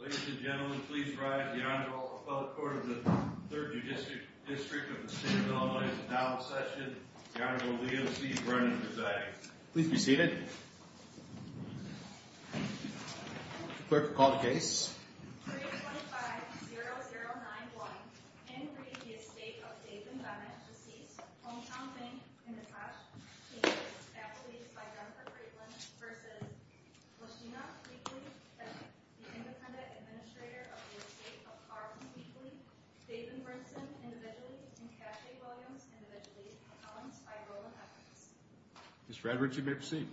Ladies and gentlemen, please rise. The Honorable Appellate Court of the 3rd Judicial District of the State of Illinois is now in session. The Honorable Leo C. Brennan is diagnosed. Please be seated. Clerk will call the case. 325-0091, Henry, the estate of David Bennett, deceased. Hometown bank, in the past. He and his faculty, by Jennifer Craitlin, versus Lashena Creekley, the independent administrator of the estate of Carlson Creekley. David Brinson, individually. And Cassie Williams, individually. Columns, by Roland Evans. Ms. Frederick, you may proceed.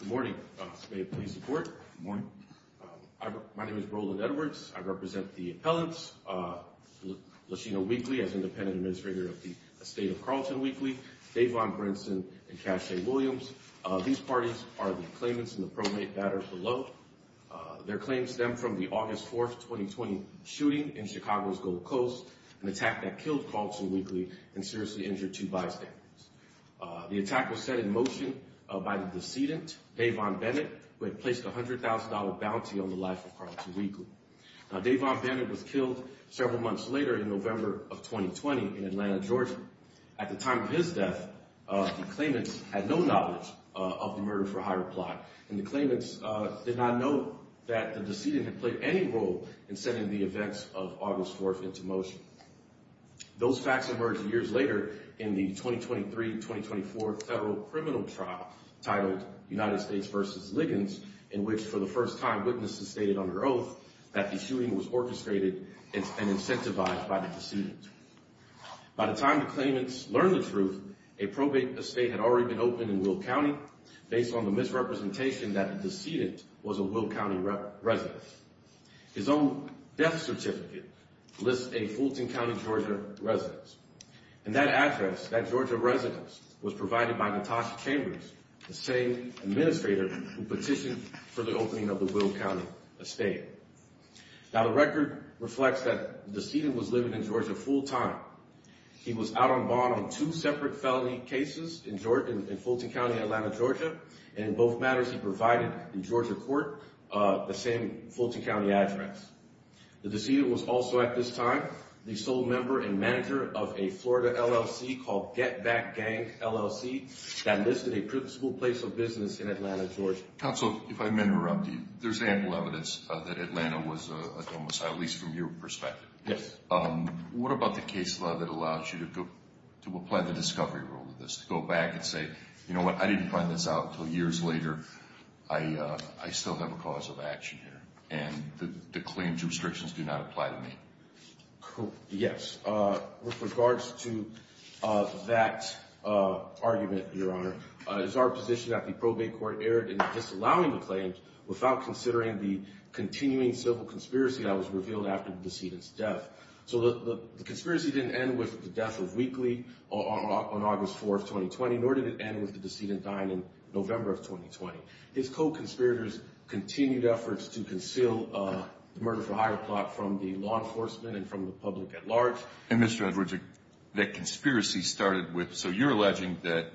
Good morning. May it please the Court. Good morning. My name is Roland Edwards. I represent the appellants. Lashena Weekly, as independent administrator of the estate of Carlson Weekly. Davon Brinson, and Cassie Williams. These parties are the claimants in the probate that are below. Their claims stem from the August 4th, 2020, shooting in Chicago's Gold Coast. An attack that killed Carlson Weekly, and seriously injured two bystanders. The attack was set in motion by the decedent, Davon Bennett, who had placed a $100,000 bounty on the life of Carlson Weekly. Now, Davon Bennett was killed several months later, in November of 2020, in Atlanta, Georgia. At the time of his death, the claimants had no knowledge of the murder for hire plot. And the claimants did not know that the decedent had played any role in setting the events of August 4th into motion. Those facts emerged years later, in the 2023-2024 federal criminal trial, titled United States vs. Liggins, in which, for the first time, witnesses stated under oath that the shooting was orchestrated and incentivized by the decedent. By the time the claimants learned the truth, a probate estate had already been opened in Will County. Based on the misrepresentation that the decedent was a Will County resident. His own death certificate lists a Fulton County, Georgia residence. And that address, that Georgia residence, was provided by Natasha Chambers, the same administrator who petitioned for the opening of the Will County estate. Now, the record reflects that the decedent was living in Georgia full-time. He was out on bond on two separate felony cases in Fulton County, Atlanta, Georgia. And in both matters, he provided the Georgia court the same Fulton County address. The decedent was also at this time the sole member and manager of a Florida LLC called Get Back Gang LLC that listed a principal place of business in Atlanta, Georgia. Counsel, if I may interrupt you, there's ample evidence that Atlanta was a homicide, at least from your perspective. Yes. What about the case law that allows you to apply the discovery rule to this? To go back and say, you know what, I didn't find this out until years later. I still have a cause of action here. And the claims restrictions do not apply to me. Yes. With regards to that argument, Your Honor, it is our position that the probate court erred in disallowing the claims without considering the continuing civil conspiracy that was revealed after the decedent's death. So the conspiracy didn't end with the death of Weakley on August 4th, 2020, nor did it end with the decedent dying in November of 2020. His co-conspirators continued efforts to conceal the murder for hire plot from the law enforcement and from the public at large. And Mr. Edwards, that conspiracy started with, so you're alleging that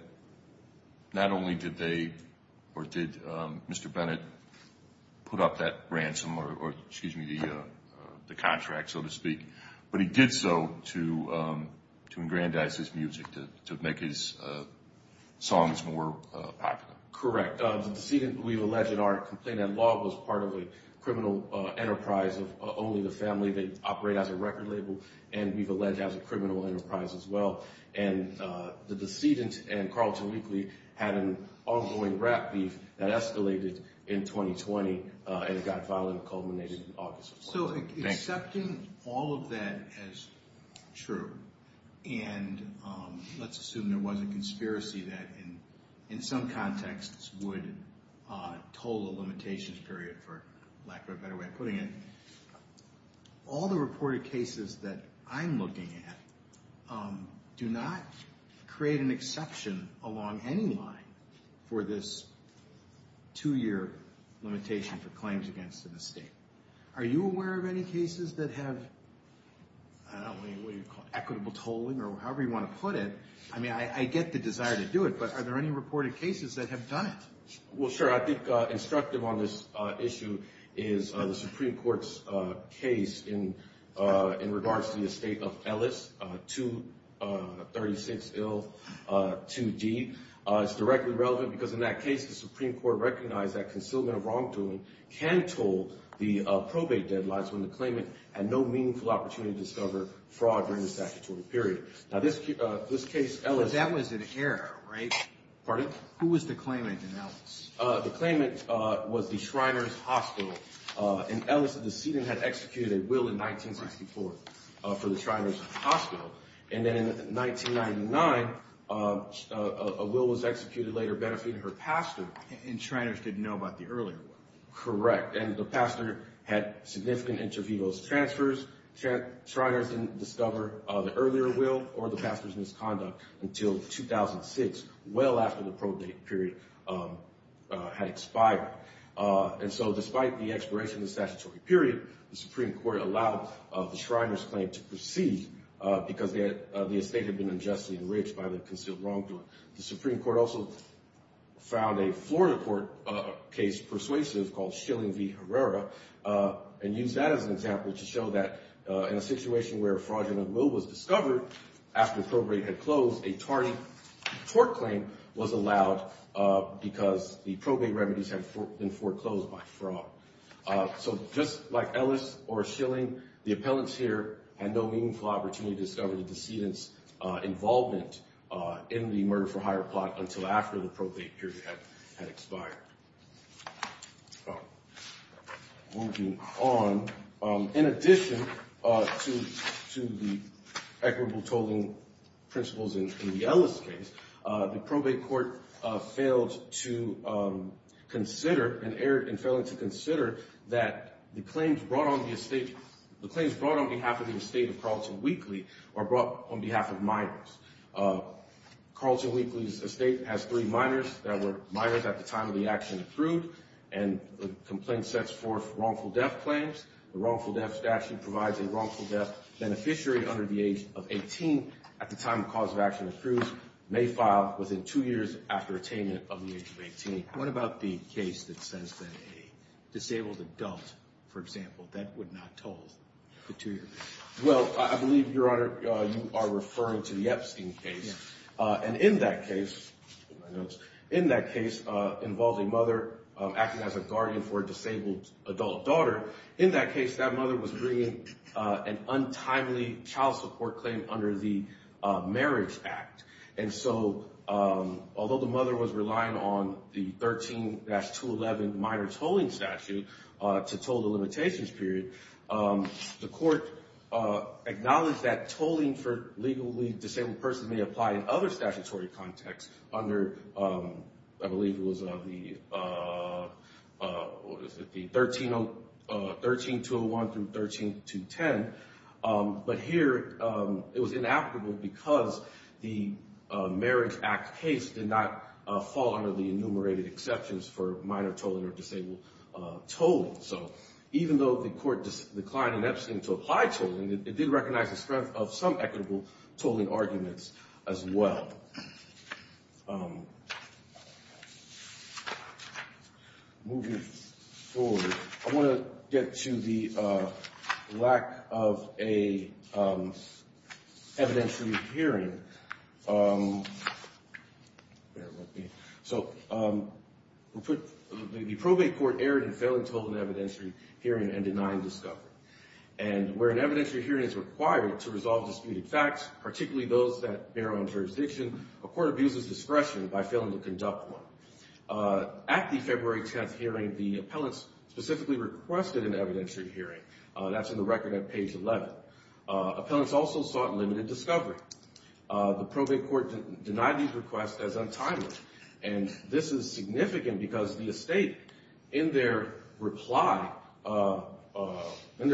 not only did they or did Mr. Bennett put up that ransom or, excuse me, the contract, so to speak, but he did so to engrandize his music, to make his songs more popular. Correct. In fact, the decedent we've alleged in our complaint at law was part of a criminal enterprise of only the family that operate as a record label, and we've alleged as a criminal enterprise as well. And the decedent and Carlton Weakley had an ongoing rap beef that escalated in 2020, and it got violent and culminated on August 4th. So accepting all of that as true, and let's assume there was a conspiracy that in some contexts would toll a limitations period, for lack of a better way of putting it, all the reported cases that I'm looking at do not create an exception along any line for this two-year limitation for claims against an estate. Are you aware of any cases that have equitable tolling or however you want to put it? I mean, I get the desire to do it, but are there any reported cases that have done it? Well, sure. I think instructive on this issue is the Supreme Court's case in regards to the estate of Ellis, 236L2D. It's directly relevant because in that case, the Supreme Court recognized that concealment of wrongdoing can toll the probate deadlines when the claimant had no meaningful opportunity to discover fraud during the statutory period. Now, this case, Ellis— But that was an error, right? Pardon? Who was the claimant in Ellis? The claimant was the Shriners Hospital, and Ellis, the decedent, had executed a will in 1964 for the Shriners Hospital. And then in 1999, a will was executed later benefiting her pastor. And Shriners didn't know about the earlier one. Correct, and the pastor had significant intervivos transfers. Shriners didn't discover the earlier will or the pastor's misconduct until 2006, well after the probate period had expired. And so despite the expiration of the statutory period, the Supreme Court allowed the Shriners claim to proceed because the estate had been unjustly enriched by the concealed wrongdoing. The Supreme Court also found a Florida court case persuasive called Schilling v. Herrera and used that as an example to show that in a situation where a fraudulent will was discovered after the probate had closed, a tardy tort claim was allowed because the probate remedies had been foreclosed by fraud. So just like Ellis or Schilling, the appellants here had no meaningful opportunity to discover the decedent's involvement in the murder-for-hire plot until after the probate period had expired. Moving on, in addition to the equitable tolling principles in the Ellis case, the probate court failed to consider and erred in failing to consider that the claims brought on behalf of the estate of Carlton Weakley are brought on behalf of minors. Carlton Weakley's estate has three minors that were minors at the time of the action approved, and the complaint sets forth wrongful death claims. The wrongful death statute provides a wrongful death beneficiary under the age of 18 at the time of cause of action approved may file within two years after attainment of the age of 18. What about the case that says that a disabled adult, for example, that would not toll for two years? Well, I believe, Your Honor, you are referring to the Epstein case. And in that case, in that case involved a mother acting as a guardian for a disabled adult daughter. In that case, that mother was bringing an untimely child support claim under the Marriage Act. And so although the mother was relying on the 13-211 minor tolling statute to toll the limitations period, the court acknowledged that tolling for legally disabled persons may apply in other statutory contexts under, I believe it was the 13-201 through 13-210. But here it was inapplicable because the Marriage Act case did not fall under the enumerated exceptions for minor tolling or disabled tolling. So even though the court declined in Epstein to apply tolling, it did recognize the strength of some equitable tolling arguments as well. Moving forward, I want to get to the lack of an evidentiary hearing. The probate court erred in failing to hold an evidentiary hearing and denying discovery. And where an evidentiary hearing is required to resolve disputed facts, particularly those that bear on jurisdiction, a court abuses discretion by failing to conduct one. At the February 10th hearing, the appellants specifically requested an evidentiary hearing. That's in the record at page 11. Appellants also sought limited discovery. The probate court denied these requests as untitled. And this is significant because the estate, in their reply in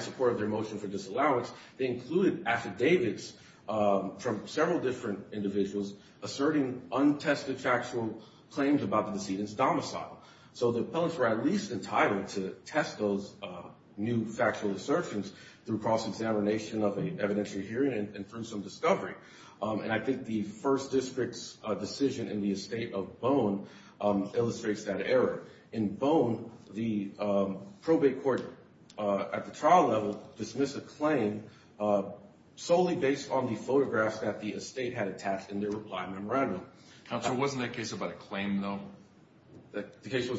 support of their motion for disallowance, they included affidavits from several different individuals asserting untested factual claims about the decedent's domicile. So the appellants were at least entitled to test those new factual assertions through cross-examination of an evidentiary hearing and through some discovery. And I think the first district's decision in the estate of Bone illustrates that error. In Bone, the probate court at the trial level dismissed a claim solely based on the photographs that the estate had attached in their reply memorandum. Counsel, wasn't that case about a claim, though? It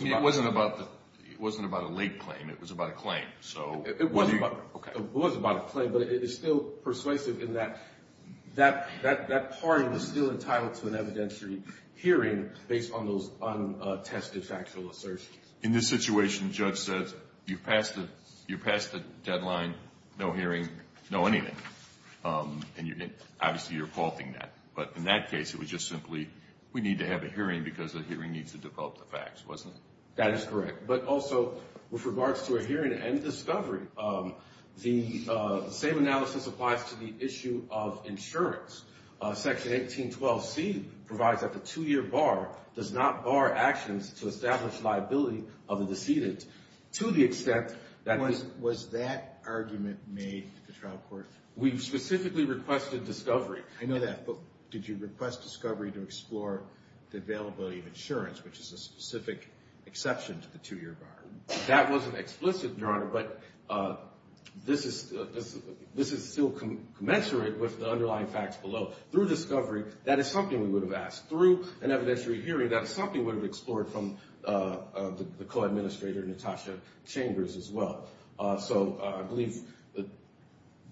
wasn't about a late claim. It was about a claim. It was about a claim, but it is still persuasive in that that party was still entitled to an evidentiary hearing based on those untested factual assertions. In this situation, the judge says you've passed the deadline, no hearing, no anything. And obviously, you're faulting that. But in that case, it was just simply we need to have a hearing because a hearing needs to develop the facts, wasn't it? That is correct. But also, with regards to a hearing and discovery, the same analysis applies to the issue of insurance. Section 1812C provides that the two-year bar does not bar actions to establish liability of the decedent to the extent that this – We specifically requested discovery. I know that, but did you request discovery to explore the availability of insurance, which is a specific exception to the two-year bar? That wasn't explicit, Your Honor, but this is still commensurate with the underlying facts below. Through discovery, that is something we would have asked. Through an evidentiary hearing, that is something we would have explored from the co-administrator, Natasha Chambers, as well. So I believe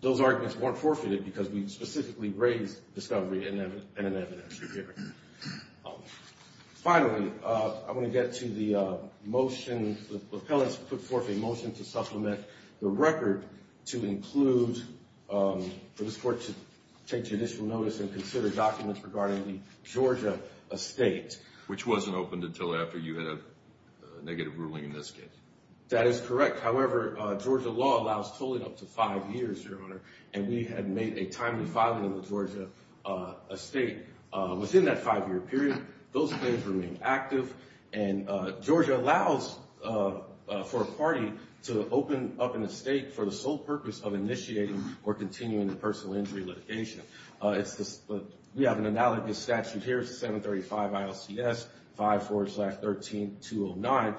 those arguments weren't forfeited because we specifically raised discovery in an evidentiary hearing. Finally, I want to get to the motion. The appellants put forth a motion to supplement the record to include for this court to take judicial notice and consider documents regarding the Georgia estate. Which wasn't opened until after you had a negative ruling in this case. That is correct. However, Georgia law allows tolling up to five years, Your Honor, and we had made a timely filing of the Georgia estate within that five-year period. Those claims remain active, and Georgia allows for a party to open up an estate for the sole purpose of initiating or continuing the personal injury litigation. We have an analogous statute here, 735 ILCS 54-13-209,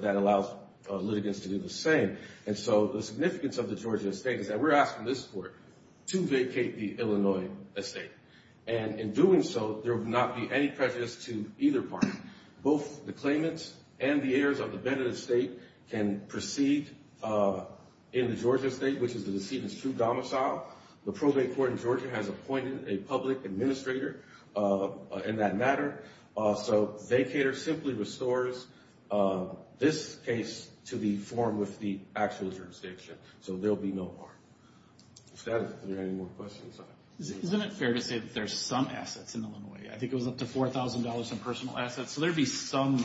that allows litigants to do the same. And so the significance of the Georgia estate is that we're asking this court to vacate the Illinois estate. And in doing so, there would not be any prejudice to either party. Both the claimants and the heirs of the Bennett estate can proceed in the Georgia estate, which is the decedent's true domicile. The probate court in Georgia has appointed a public administrator in that matter. So vacater simply restores this case to be formed with the actual jurisdiction. So there will be no harm. If there are any more questions. Isn't it fair to say that there's some assets in Illinois? I think it was up to $4,000 in personal assets. So there would be some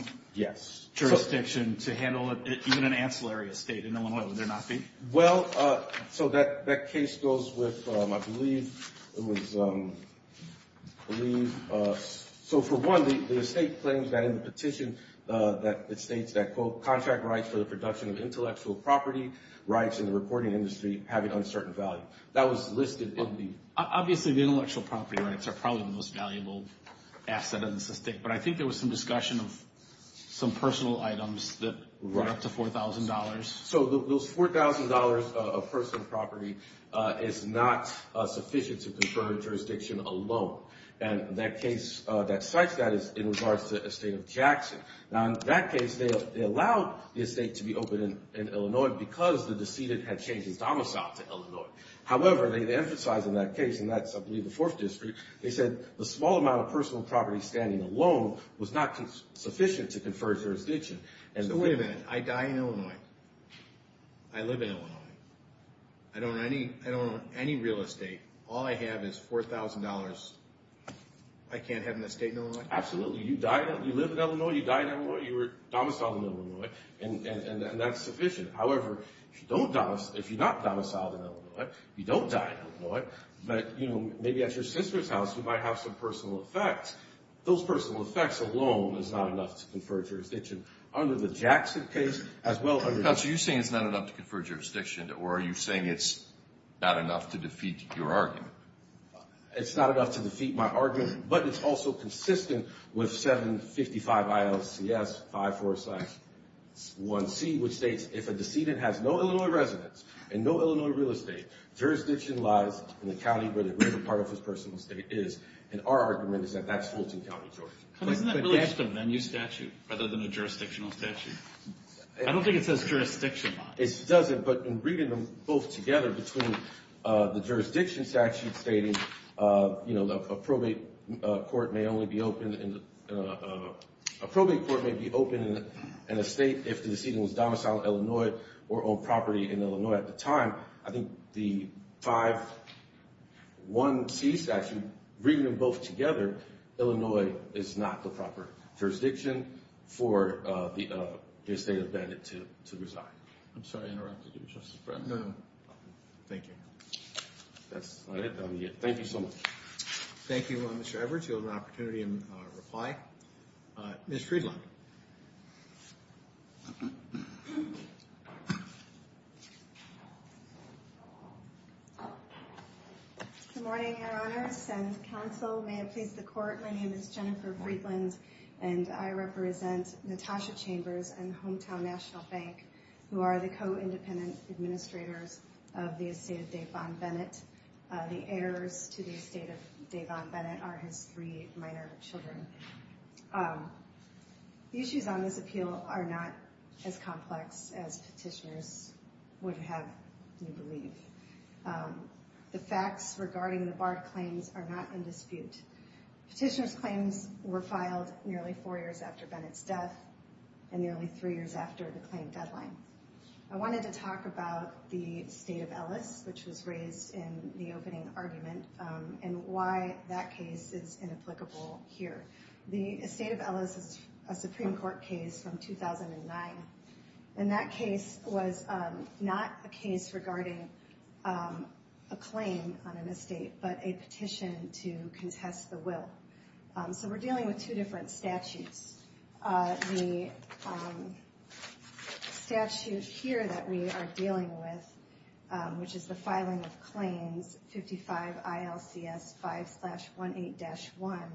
jurisdiction to handle even an ancillary estate in Illinois, would there not be? Well, so that case goes with, I believe, so for one, the estate claims that in the petition, it states that, quote, contract rights for the production of intellectual property rights in the recording industry having uncertain value. That was listed in the. Obviously, the intellectual property rights are probably the most valuable asset in this estate. But I think there was some discussion of some personal items that run up to $4,000. So those $4,000 of personal property is not sufficient to confer jurisdiction alone. And that case that cites that is in regards to the estate of Jackson. Now, in that case, they allowed the estate to be open in Illinois because the decedent had changed his domicile to Illinois. However, they emphasize in that case, and that's, I believe, the fourth district, they said the small amount of personal property standing alone was not sufficient to confer jurisdiction. So wait a minute. I die in Illinois. I live in Illinois. I don't own any real estate. All I have is $4,000. I can't have an estate in Illinois? Absolutely. You live in Illinois. You die in Illinois. You were domiciled in Illinois. And that's sufficient. However, if you're not domiciled in Illinois, you don't die in Illinois. But maybe at your sister's house, you might have some personal effects. Those personal effects alone is not enough to confer jurisdiction. Under the Jackson case, as well as under the… Counselor, you're saying it's not enough to confer jurisdiction, or are you saying it's not enough to defeat your argument? It's not enough to defeat my argument, but it's also consistent with 755 ILCS 5461C, which states if a decedent has no Illinois residence and no Illinois real estate, jurisdiction lies in the county where the greater part of his personal estate is. And our argument is that that's Fulton County, Georgia. Isn't that really just a venue statute rather than a jurisdictional statute? I don't think it says jurisdiction. It doesn't, but in reading them both together between the jurisdiction statute stating, you know, a probate court may only be open in a state if the decedent was domiciled in Illinois or owned property in Illinois at the time. I think the 541C statute, reading them both together, Illinois is not the proper jurisdiction for the estate of the decedent to reside. I'm sorry I interrupted you, Justice Breyer. No, no. Thank you. That's about it. Thank you so much. Thank you, Mr. Edwards. You'll have an opportunity to reply. Ms. Friedland? Good morning, Your Honors and counsel. May it please the Court, my name is Jennifer Friedland, and I represent Natasha Chambers and Hometown National Bank, who are the co-independent administrators of the estate of Davon Bennett. The heirs to the estate of Davon Bennett are his three minor children. The issues on this appeal are not as complex as petitioners would have you believe. The facts regarding the barred claims are not in dispute. Petitioners' claims were filed nearly four years after Bennett's death and nearly three years after the claim deadline. I wanted to talk about the State of Ellis, which was raised in the opening argument, and why that case is inapplicable here. The State of Ellis is a Supreme Court case from 2009, and that case was not a case regarding a claim on an estate, but a petition to contest the will. So we're dealing with two different statutes. The statute here that we are dealing with, which is the filing of claims, 55 ILCS 5-18-1,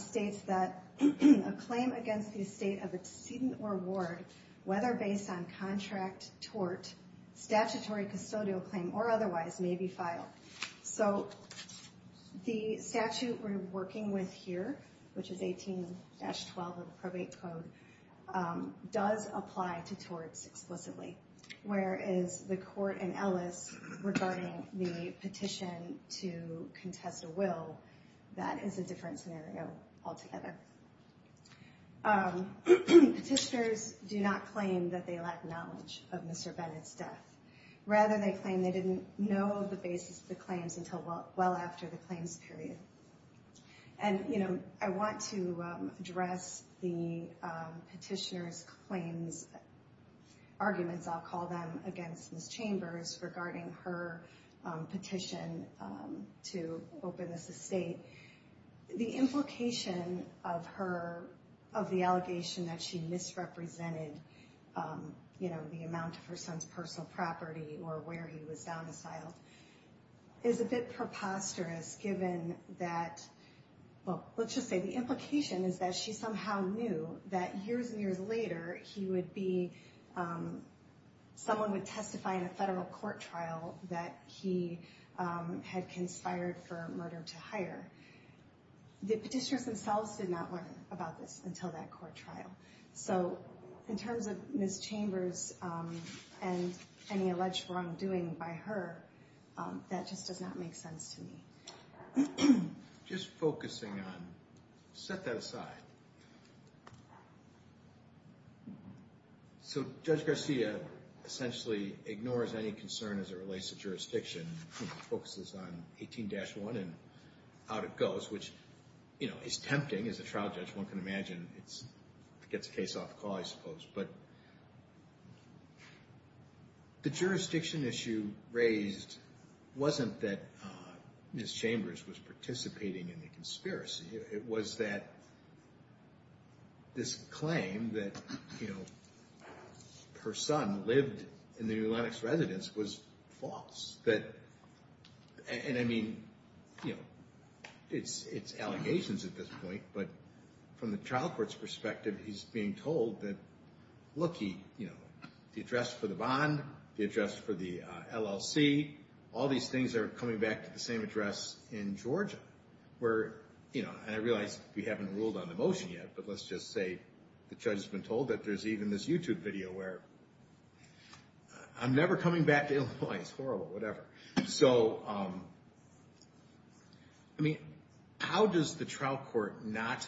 states that a claim against the estate of excedent or award, whether based on contract, tort, statutory custodial claim, or otherwise, may be filed. So the statute we're working with here, which is 18-12 of the probate code, does apply to torts explicitly, whereas the court in Ellis regarding the petition to contest a will, that is a different scenario altogether. Petitioners do not claim that they lack knowledge of Mr. Bennett's death. Rather, they claim they didn't know the basis of the claims until well after the claims period. And I want to address the petitioner's claims, arguments I'll call them, against Ms. Chambers regarding her petition to open this estate. The implication of the allegation that she misrepresented the amount of her son's personal property or where he was domiciled is a bit preposterous given that, well, let's just say the implication is that she somehow knew that years and years later he would be, someone would testify in a federal court trial that he had conspired for murder to hire. The petitioners themselves did not learn about this until that court trial. So in terms of Ms. Chambers and any alleged wrongdoing by her, that just does not make sense to me. Just focusing on, set that aside. So Judge Garcia essentially ignores any concern as it relates to jurisdiction, focuses on 18-1 and out it goes, which is tempting as a trial judge. One can imagine it gets a case off the call, I suppose. But the jurisdiction issue raised wasn't that Ms. Chambers was participating in the conspiracy. It was that this claim that her son lived in the New Atlantic's residence was false. And I mean, it's allegations at this point, but from the trial court's perspective, he's being told that, look, the address for the bond, the address for the LLC, all these things are coming back to the same address in Georgia. And I realize we haven't ruled on the motion yet, but let's just say the judge has been told that there's even this YouTube video where I'm never coming back to Illinois, it's horrible, whatever. So, I mean, how does the trial court not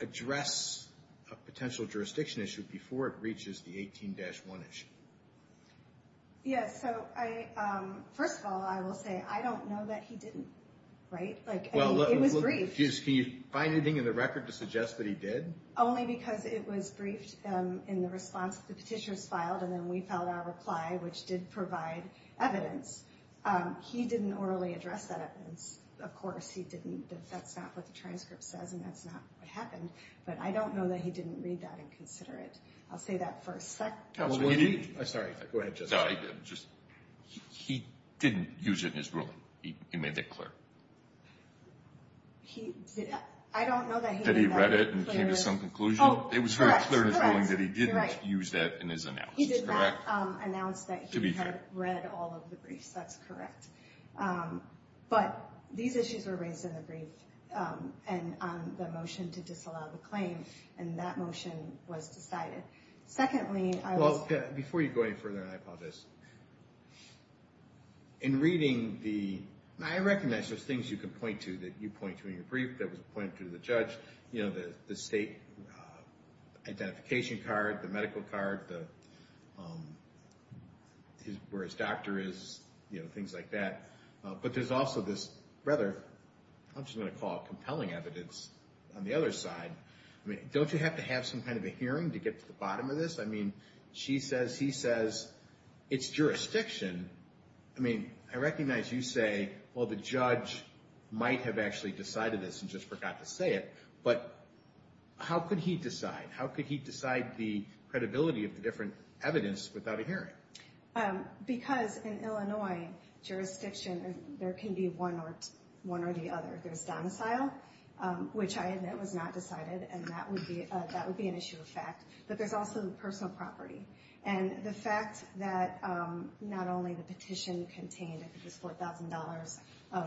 address a potential jurisdiction issue before it reaches the 18-1 issue? Yes, so first of all, I will say, I don't know that he didn't, right? It was briefed. Can you find anything in the record to suggest that he did? Only because it was briefed in the response that the petitioners filed, and then we filed our reply, which did provide evidence. He didn't orally address that evidence. Of course, he didn't, that's not what the transcript says, and that's not what happened. But I don't know that he didn't read that and consider it. I'll say that for a second. I'm sorry, go ahead. He didn't use it in his ruling. He made that clear. I don't know that he made that clear. That he read it and came to some conclusion? It was very clear in his ruling that he didn't use that in his announcement. He did not announce that he had read all of the briefs. That's correct. But these issues were raised in the brief and on the motion to disallow the claim, and that motion was decided. Secondly, I was – Well, before you go any further than I apologize, in reading the – and I recognize there's things you can point to that you point to in your brief, that was pointed to the judge, the state identification card, the medical card, where his doctor is, things like that. But there's also this rather – I'm just going to call it compelling evidence on the other side. Don't you have to have some kind of a hearing to get to the bottom of this? I mean, she says, he says, it's jurisdiction. I mean, I recognize you say, well, the judge might have actually decided this and just forgot to say it, but how could he decide? How could he decide the credibility of the different evidence without a hearing? Because in Illinois jurisdiction, there can be one or the other. There's domicile, which I admit was not decided, and that would be an issue of fact. But there's also personal property. And the fact that not only the petition contained, I think it was $4,000 of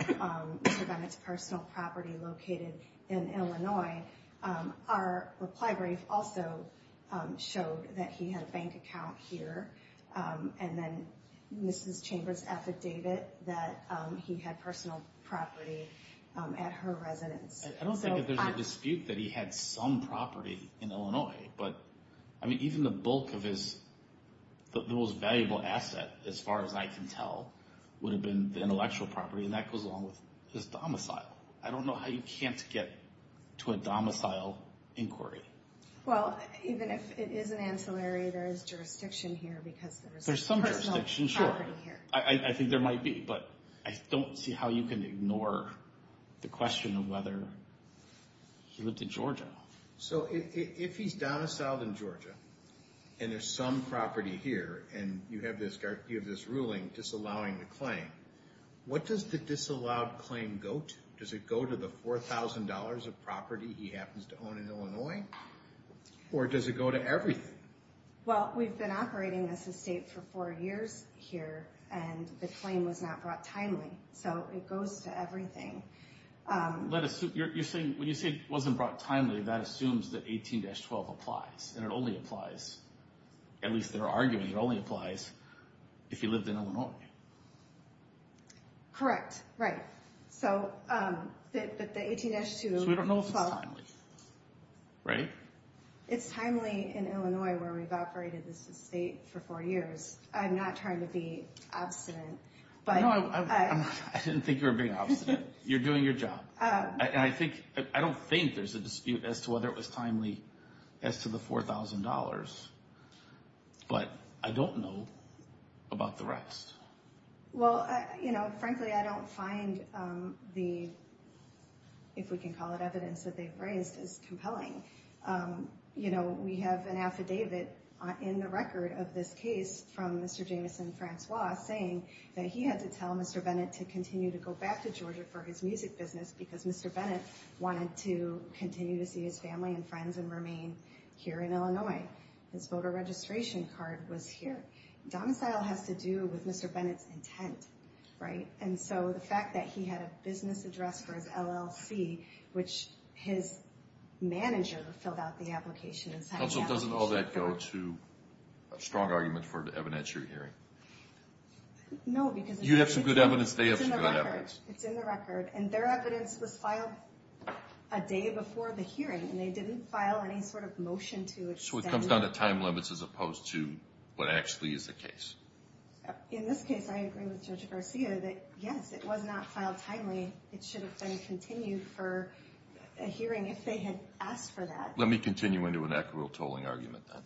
Mr. Bennett's personal property located in Illinois, our reply brief also showed that he had a bank account here and then Mrs. Chambers' affidavit that he had personal property at her residence. I don't think that there's a dispute that he had some property in Illinois. But, I mean, even the bulk of his – the most valuable asset, as far as I can tell, would have been the intellectual property, and that goes along with his domicile. I don't know how you can't get to a domicile inquiry. Well, even if it is an ancillary, there is jurisdiction here because there is personal property here. There's some jurisdiction, sure. I think there might be, but I don't see how you can ignore the question of whether he lived in Georgia. So if he's domiciled in Georgia and there's some property here and you have this ruling disallowing the claim, what does the disallowed claim go to? Does it go to the $4,000 of property he happens to own in Illinois? Or does it go to everything? Well, we've been operating this estate for four years here, and the claim was not brought timely, so it goes to everything. When you say it wasn't brought timely, that assumes that 18-12 applies, and it only applies, at least in our argument, it only applies if he lived in Illinois. Correct, right. So the 18-12... So we don't know if it's timely, right? It's timely in Illinois where we've operated this estate for four years. I'm not trying to be obstinate, but... No, I didn't think you were being obstinate. You're doing your job. I don't think there's a dispute as to whether it was timely as to the $4,000, but I don't know about the rest. Well, frankly, I don't find the, if we can call it evidence, that they've raised as compelling. We have an affidavit in the record of this case from Mr. Jameson Francois saying that he had to tell Mr. Bennett to continue to go back to Georgia for his music business because Mr. Bennett wanted to continue to see his family and friends and remain here in Illinois. His voter registration card was here. Domicile has to do with Mr. Bennett's intent, right? And so the fact that he had a business address for his LLC, which his manager filled out the application and sent the application... Counsel, doesn't all that go to a strong argument for the evidence you're hearing? No, because... You have some good evidence. They have some good evidence. It's in the record, and their evidence was filed a day before the hearing, and they didn't file any sort of motion to extend... So it comes down to time limits as opposed to what actually is the case. In this case, I agree with Judge Garcia that, yes, it was not filed timely. It should have been continued for a hearing if they had asked for that. Let me continue into an equitable tolling argument, then.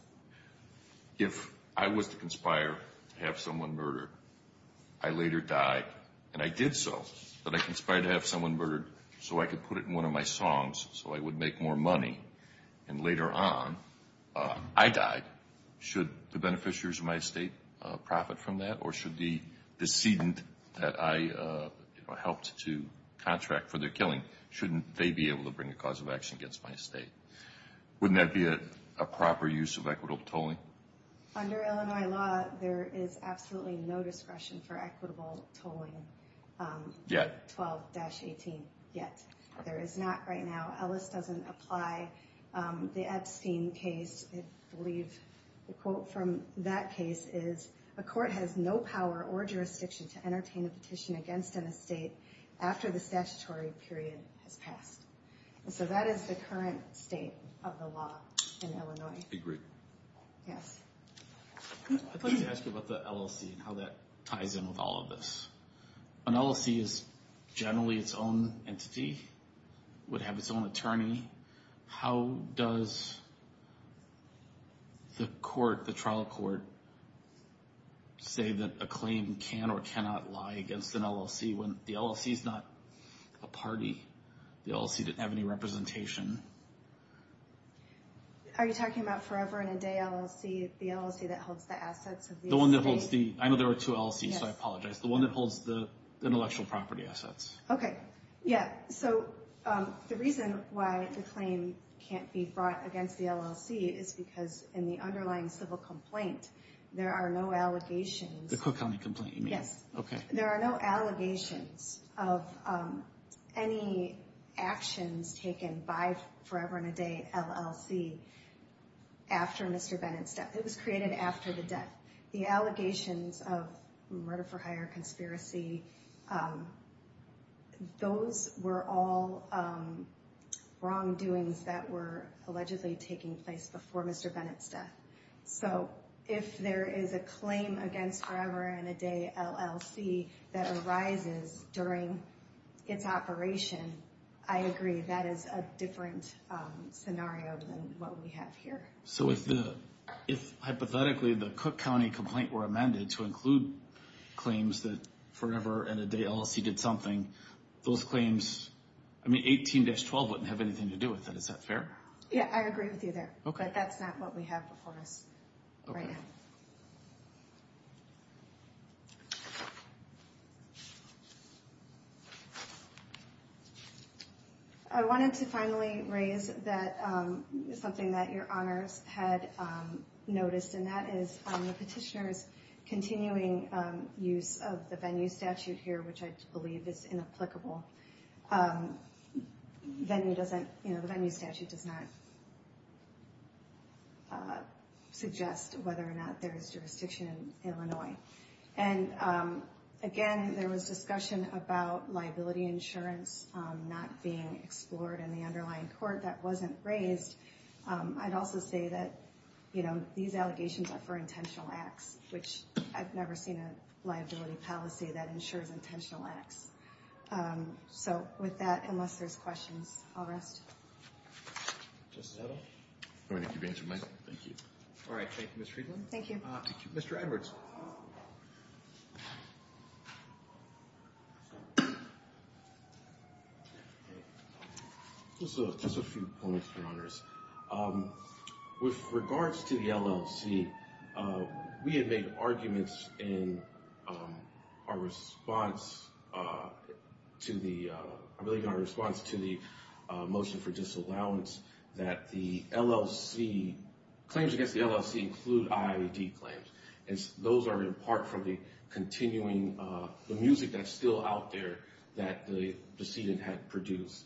If I was to conspire to have someone murdered, I later died, and I did so, but I conspired to have someone murdered so I could put it in one of my songs so I would make more money, and later on I died, should the beneficiaries of my estate profit from that, or should the decedent that I helped to contract for their killing, shouldn't they be able to bring a cause of action against my estate? Wouldn't that be a proper use of equitable tolling? Under Illinois law, there is absolutely no discretion for equitable tolling. 12-18, yet. There is not right now. Ellis doesn't apply. The Epstein case, I believe the quote from that case is, a court has no power or jurisdiction to entertain a petition against an estate after the statutory period has passed. So that is the current state of the law in Illinois. Agreed. Yes. I'd like to ask you about the LLC and how that ties in with all of this. An LLC is generally its own entity, would have its own attorney. How does the trial court say that a claim can or cannot lie against an LLC when the LLC is not a party? The LLC didn't have any representation. Are you talking about forever and a day LLC? The LLC that holds the assets of the estate? I know there are two LLCs, so I apologize. The one that holds the intellectual property assets. Okay. Yeah, so the reason why the claim can't be brought against the LLC is because in the underlying civil complaint, there are no allegations. The Cook County complaint you mean? Yes. Okay. There are no allegations of any actions taken by forever and a day LLC after Mr. Bennett's death. It was created after the death. The allegations of murder for hire, conspiracy, those were all wrongdoings that were allegedly taking place before Mr. Bennett's death. So if there is a claim against forever and a day LLC that arises during its operation, I agree that is a different scenario than what we have here. So if hypothetically the Cook County complaint were amended to include claims that forever and a day LLC did something, those claims, I mean 18-12 wouldn't have anything to do with it. Is that fair? Yeah, I agree with you there. Okay. But that's not what we have before us right now. Okay. Thank you. I wanted to finally raise something that your honors had noticed, and that is on the petitioner's continuing use of the venue statute here, which I believe is inapplicable. The venue statute does not suggest whether or not there is jurisdiction in Illinois. And, again, there was discussion about liability insurance not being explored in the underlying court. That wasn't raised. I'd also say that these allegations are for intentional acts, which I've never seen a liability policy that ensures intentional acts. So with that, unless there's questions, I'll rest. Justice Edel? I'm going to give the answer to Michael. Thank you. All right, thank you, Ms. Friedland. Thank you. Mr. Edwards? Just a few points, your honors. With regards to the LLC, we had made arguments in our response to the motion for disallowance that the LLC – claims against the LLC include IAD claims. And those are in part from the continuing – the music that's still out there that the decedent had produced.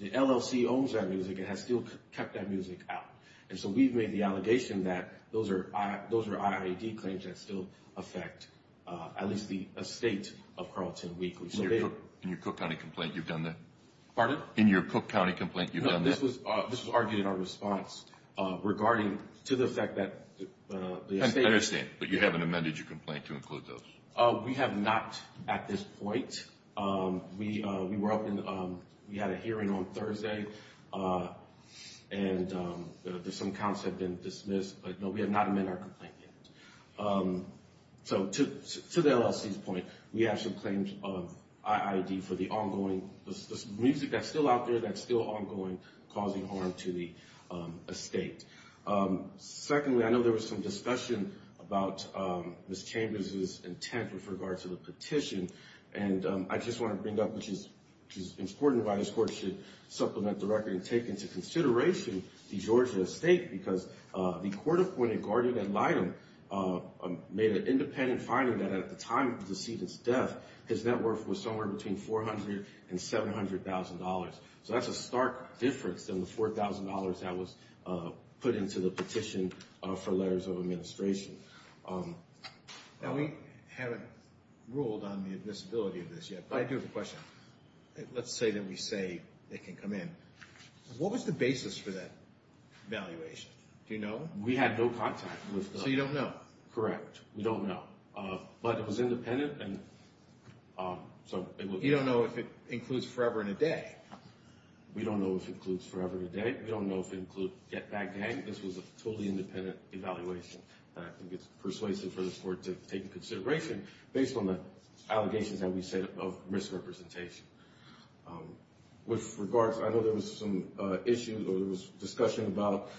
The LLC owns that music and has still kept that music out. And so we've made the allegation that those are IAD claims that still affect at least the estate of Carleton Weekly. In your Cook County complaint, you've done the – Pardon? In your Cook County complaint, you've done the – No, this was argued in our response regarding to the fact that the estate – I understand, but you haven't amended your complaint to include those. We have not at this point. We were up in – we had a hearing on Thursday, and some counts have been dismissed. But, no, we have not amended our complaint yet. So to the LLC's point, we have some claims of IAD for the ongoing – the music that's still out there that's still ongoing causing harm to the estate. Secondly, I know there was some discussion about Ms. Chambers' intent with regard to the petition. And I just want to bring up, which is important, why this court should supplement the record and take into consideration the Georgia estate. Because the court-appointed guardian ad litem made an independent finding that at the time of the decedent's death, his net worth was somewhere between $400,000 and $700,000. So that's a stark difference than the $4,000 that was put into the petition for letters of administration. Now, we haven't ruled on the admissibility of this yet, but I do have a question. Let's say that we say it can come in. What was the basis for that evaluation? Do you know? We had no contact with the – So you don't know? Correct. We don't know. But it was independent, and so – You don't know if it includes forever and a day? We don't know if it includes forever and a day. We don't know if it includes get-back-day. This was a totally independent evaluation. And I think it's persuasive for the court to take into consideration, based on the allegations that we said of misrepresentation. With regards – I know there was some issues or there was discussion about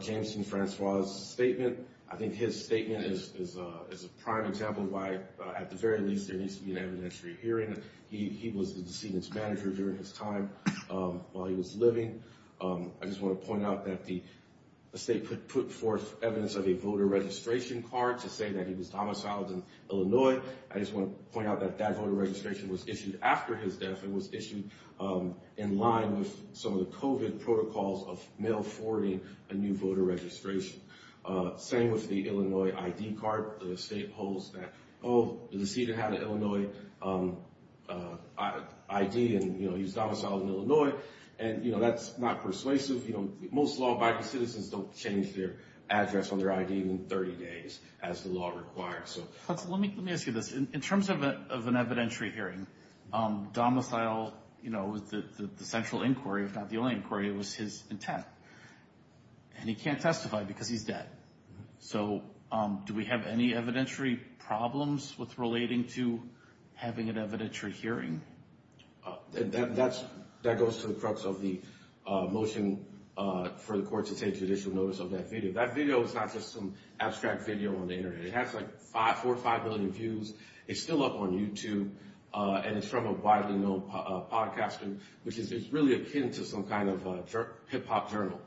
Jameson Francois' statement. I think his statement is a prime example of why, at the very least, there needs to be an evidentiary hearing. He was the decedent's manager during his time while he was living. I just want to point out that the state put forth evidence of a voter registration card to say that he was domiciled in Illinois. I just want to point out that that voter registration was issued after his death. It was issued in line with some of the COVID protocols of mail forwarding a new voter registration. Same with the Illinois ID card. The state holds that, oh, the decedent had an Illinois ID, and he was domiciled in Illinois. And that's not persuasive. Most law-abiding citizens don't change their address on their ID in 30 days, as the law requires. Let me ask you this. In terms of an evidentiary hearing, domicile was the central inquiry, if not the only inquiry. It was his intent. And he can't testify because he's dead. So do we have any evidentiary problems with relating to having an evidentiary hearing? That goes to the crux of the motion for the court to take judicial notice of that video. That video is not just some abstract video on the Internet. It has like four or five million views. It's still up on YouTube. And it's from a widely known podcaster, which is really akin to some kind of hip-hop journal.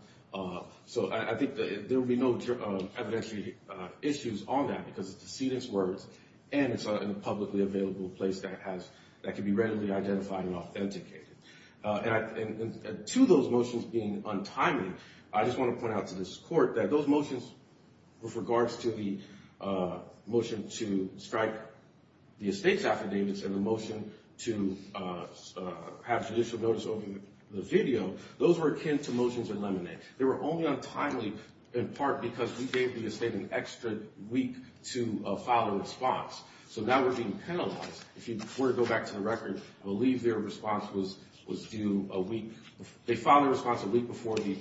So I think there will be no evidentiary issues on that because it's decedent's words, and it's in a publicly available place that can be readily identified and authenticated. And to those motions being untimely, I just want to point out to this court that those motions, with regards to the motion to strike the estate's affidavits and the motion to have judicial notice of the video, those were akin to motions in lemonade. They were only untimely in part because we gave the estate an extra week to file a response. So now we're being penalized. If you were to go back to the record, I believe their response was due a week. They filed their response a week before the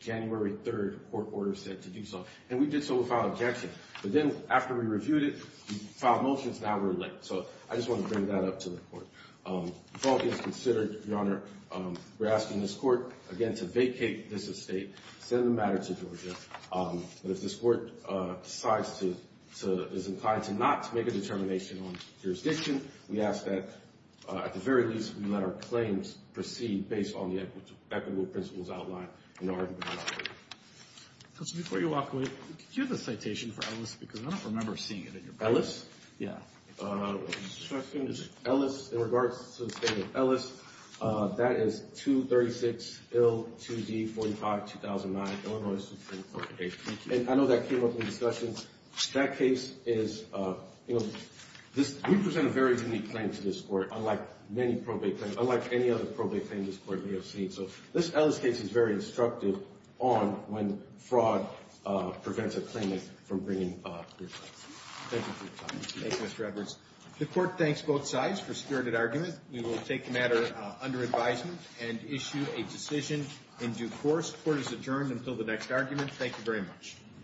January 3rd court order said to do so. And we did so without objection. But then after we reviewed it, we filed motions. Now we're late. So I just want to bring that up to the court. The fault is considered, Your Honor. We're asking this court, again, to vacate this estate, send the matter to Georgia. But if this court decides to, is inclined to not make a determination on jurisdiction, we ask that at the very least we let our claims proceed based on the equitable principles outlined in the argument. Counsel, before you walk away, do you have a citation for Ellis? Because I don't remember seeing it in your book. Yeah. In regards to the statement of Ellis, that is 236-2D-45-2009, Illinois Supreme Court. And I know that came up in the discussion. That case is, you know, we present a very unique claim to this court, unlike many probate claims, unlike any other probate claim this court may have seen. So this Ellis case is very instructive on when fraud prevents a claimant from bringing good facts. Thank you for your time. Thank you, Mr. Edwards. The court thanks both sides for stewarded argument. We will take the matter under advisement and issue a decision in due course. Court is adjourned until the next argument. Thank you very much.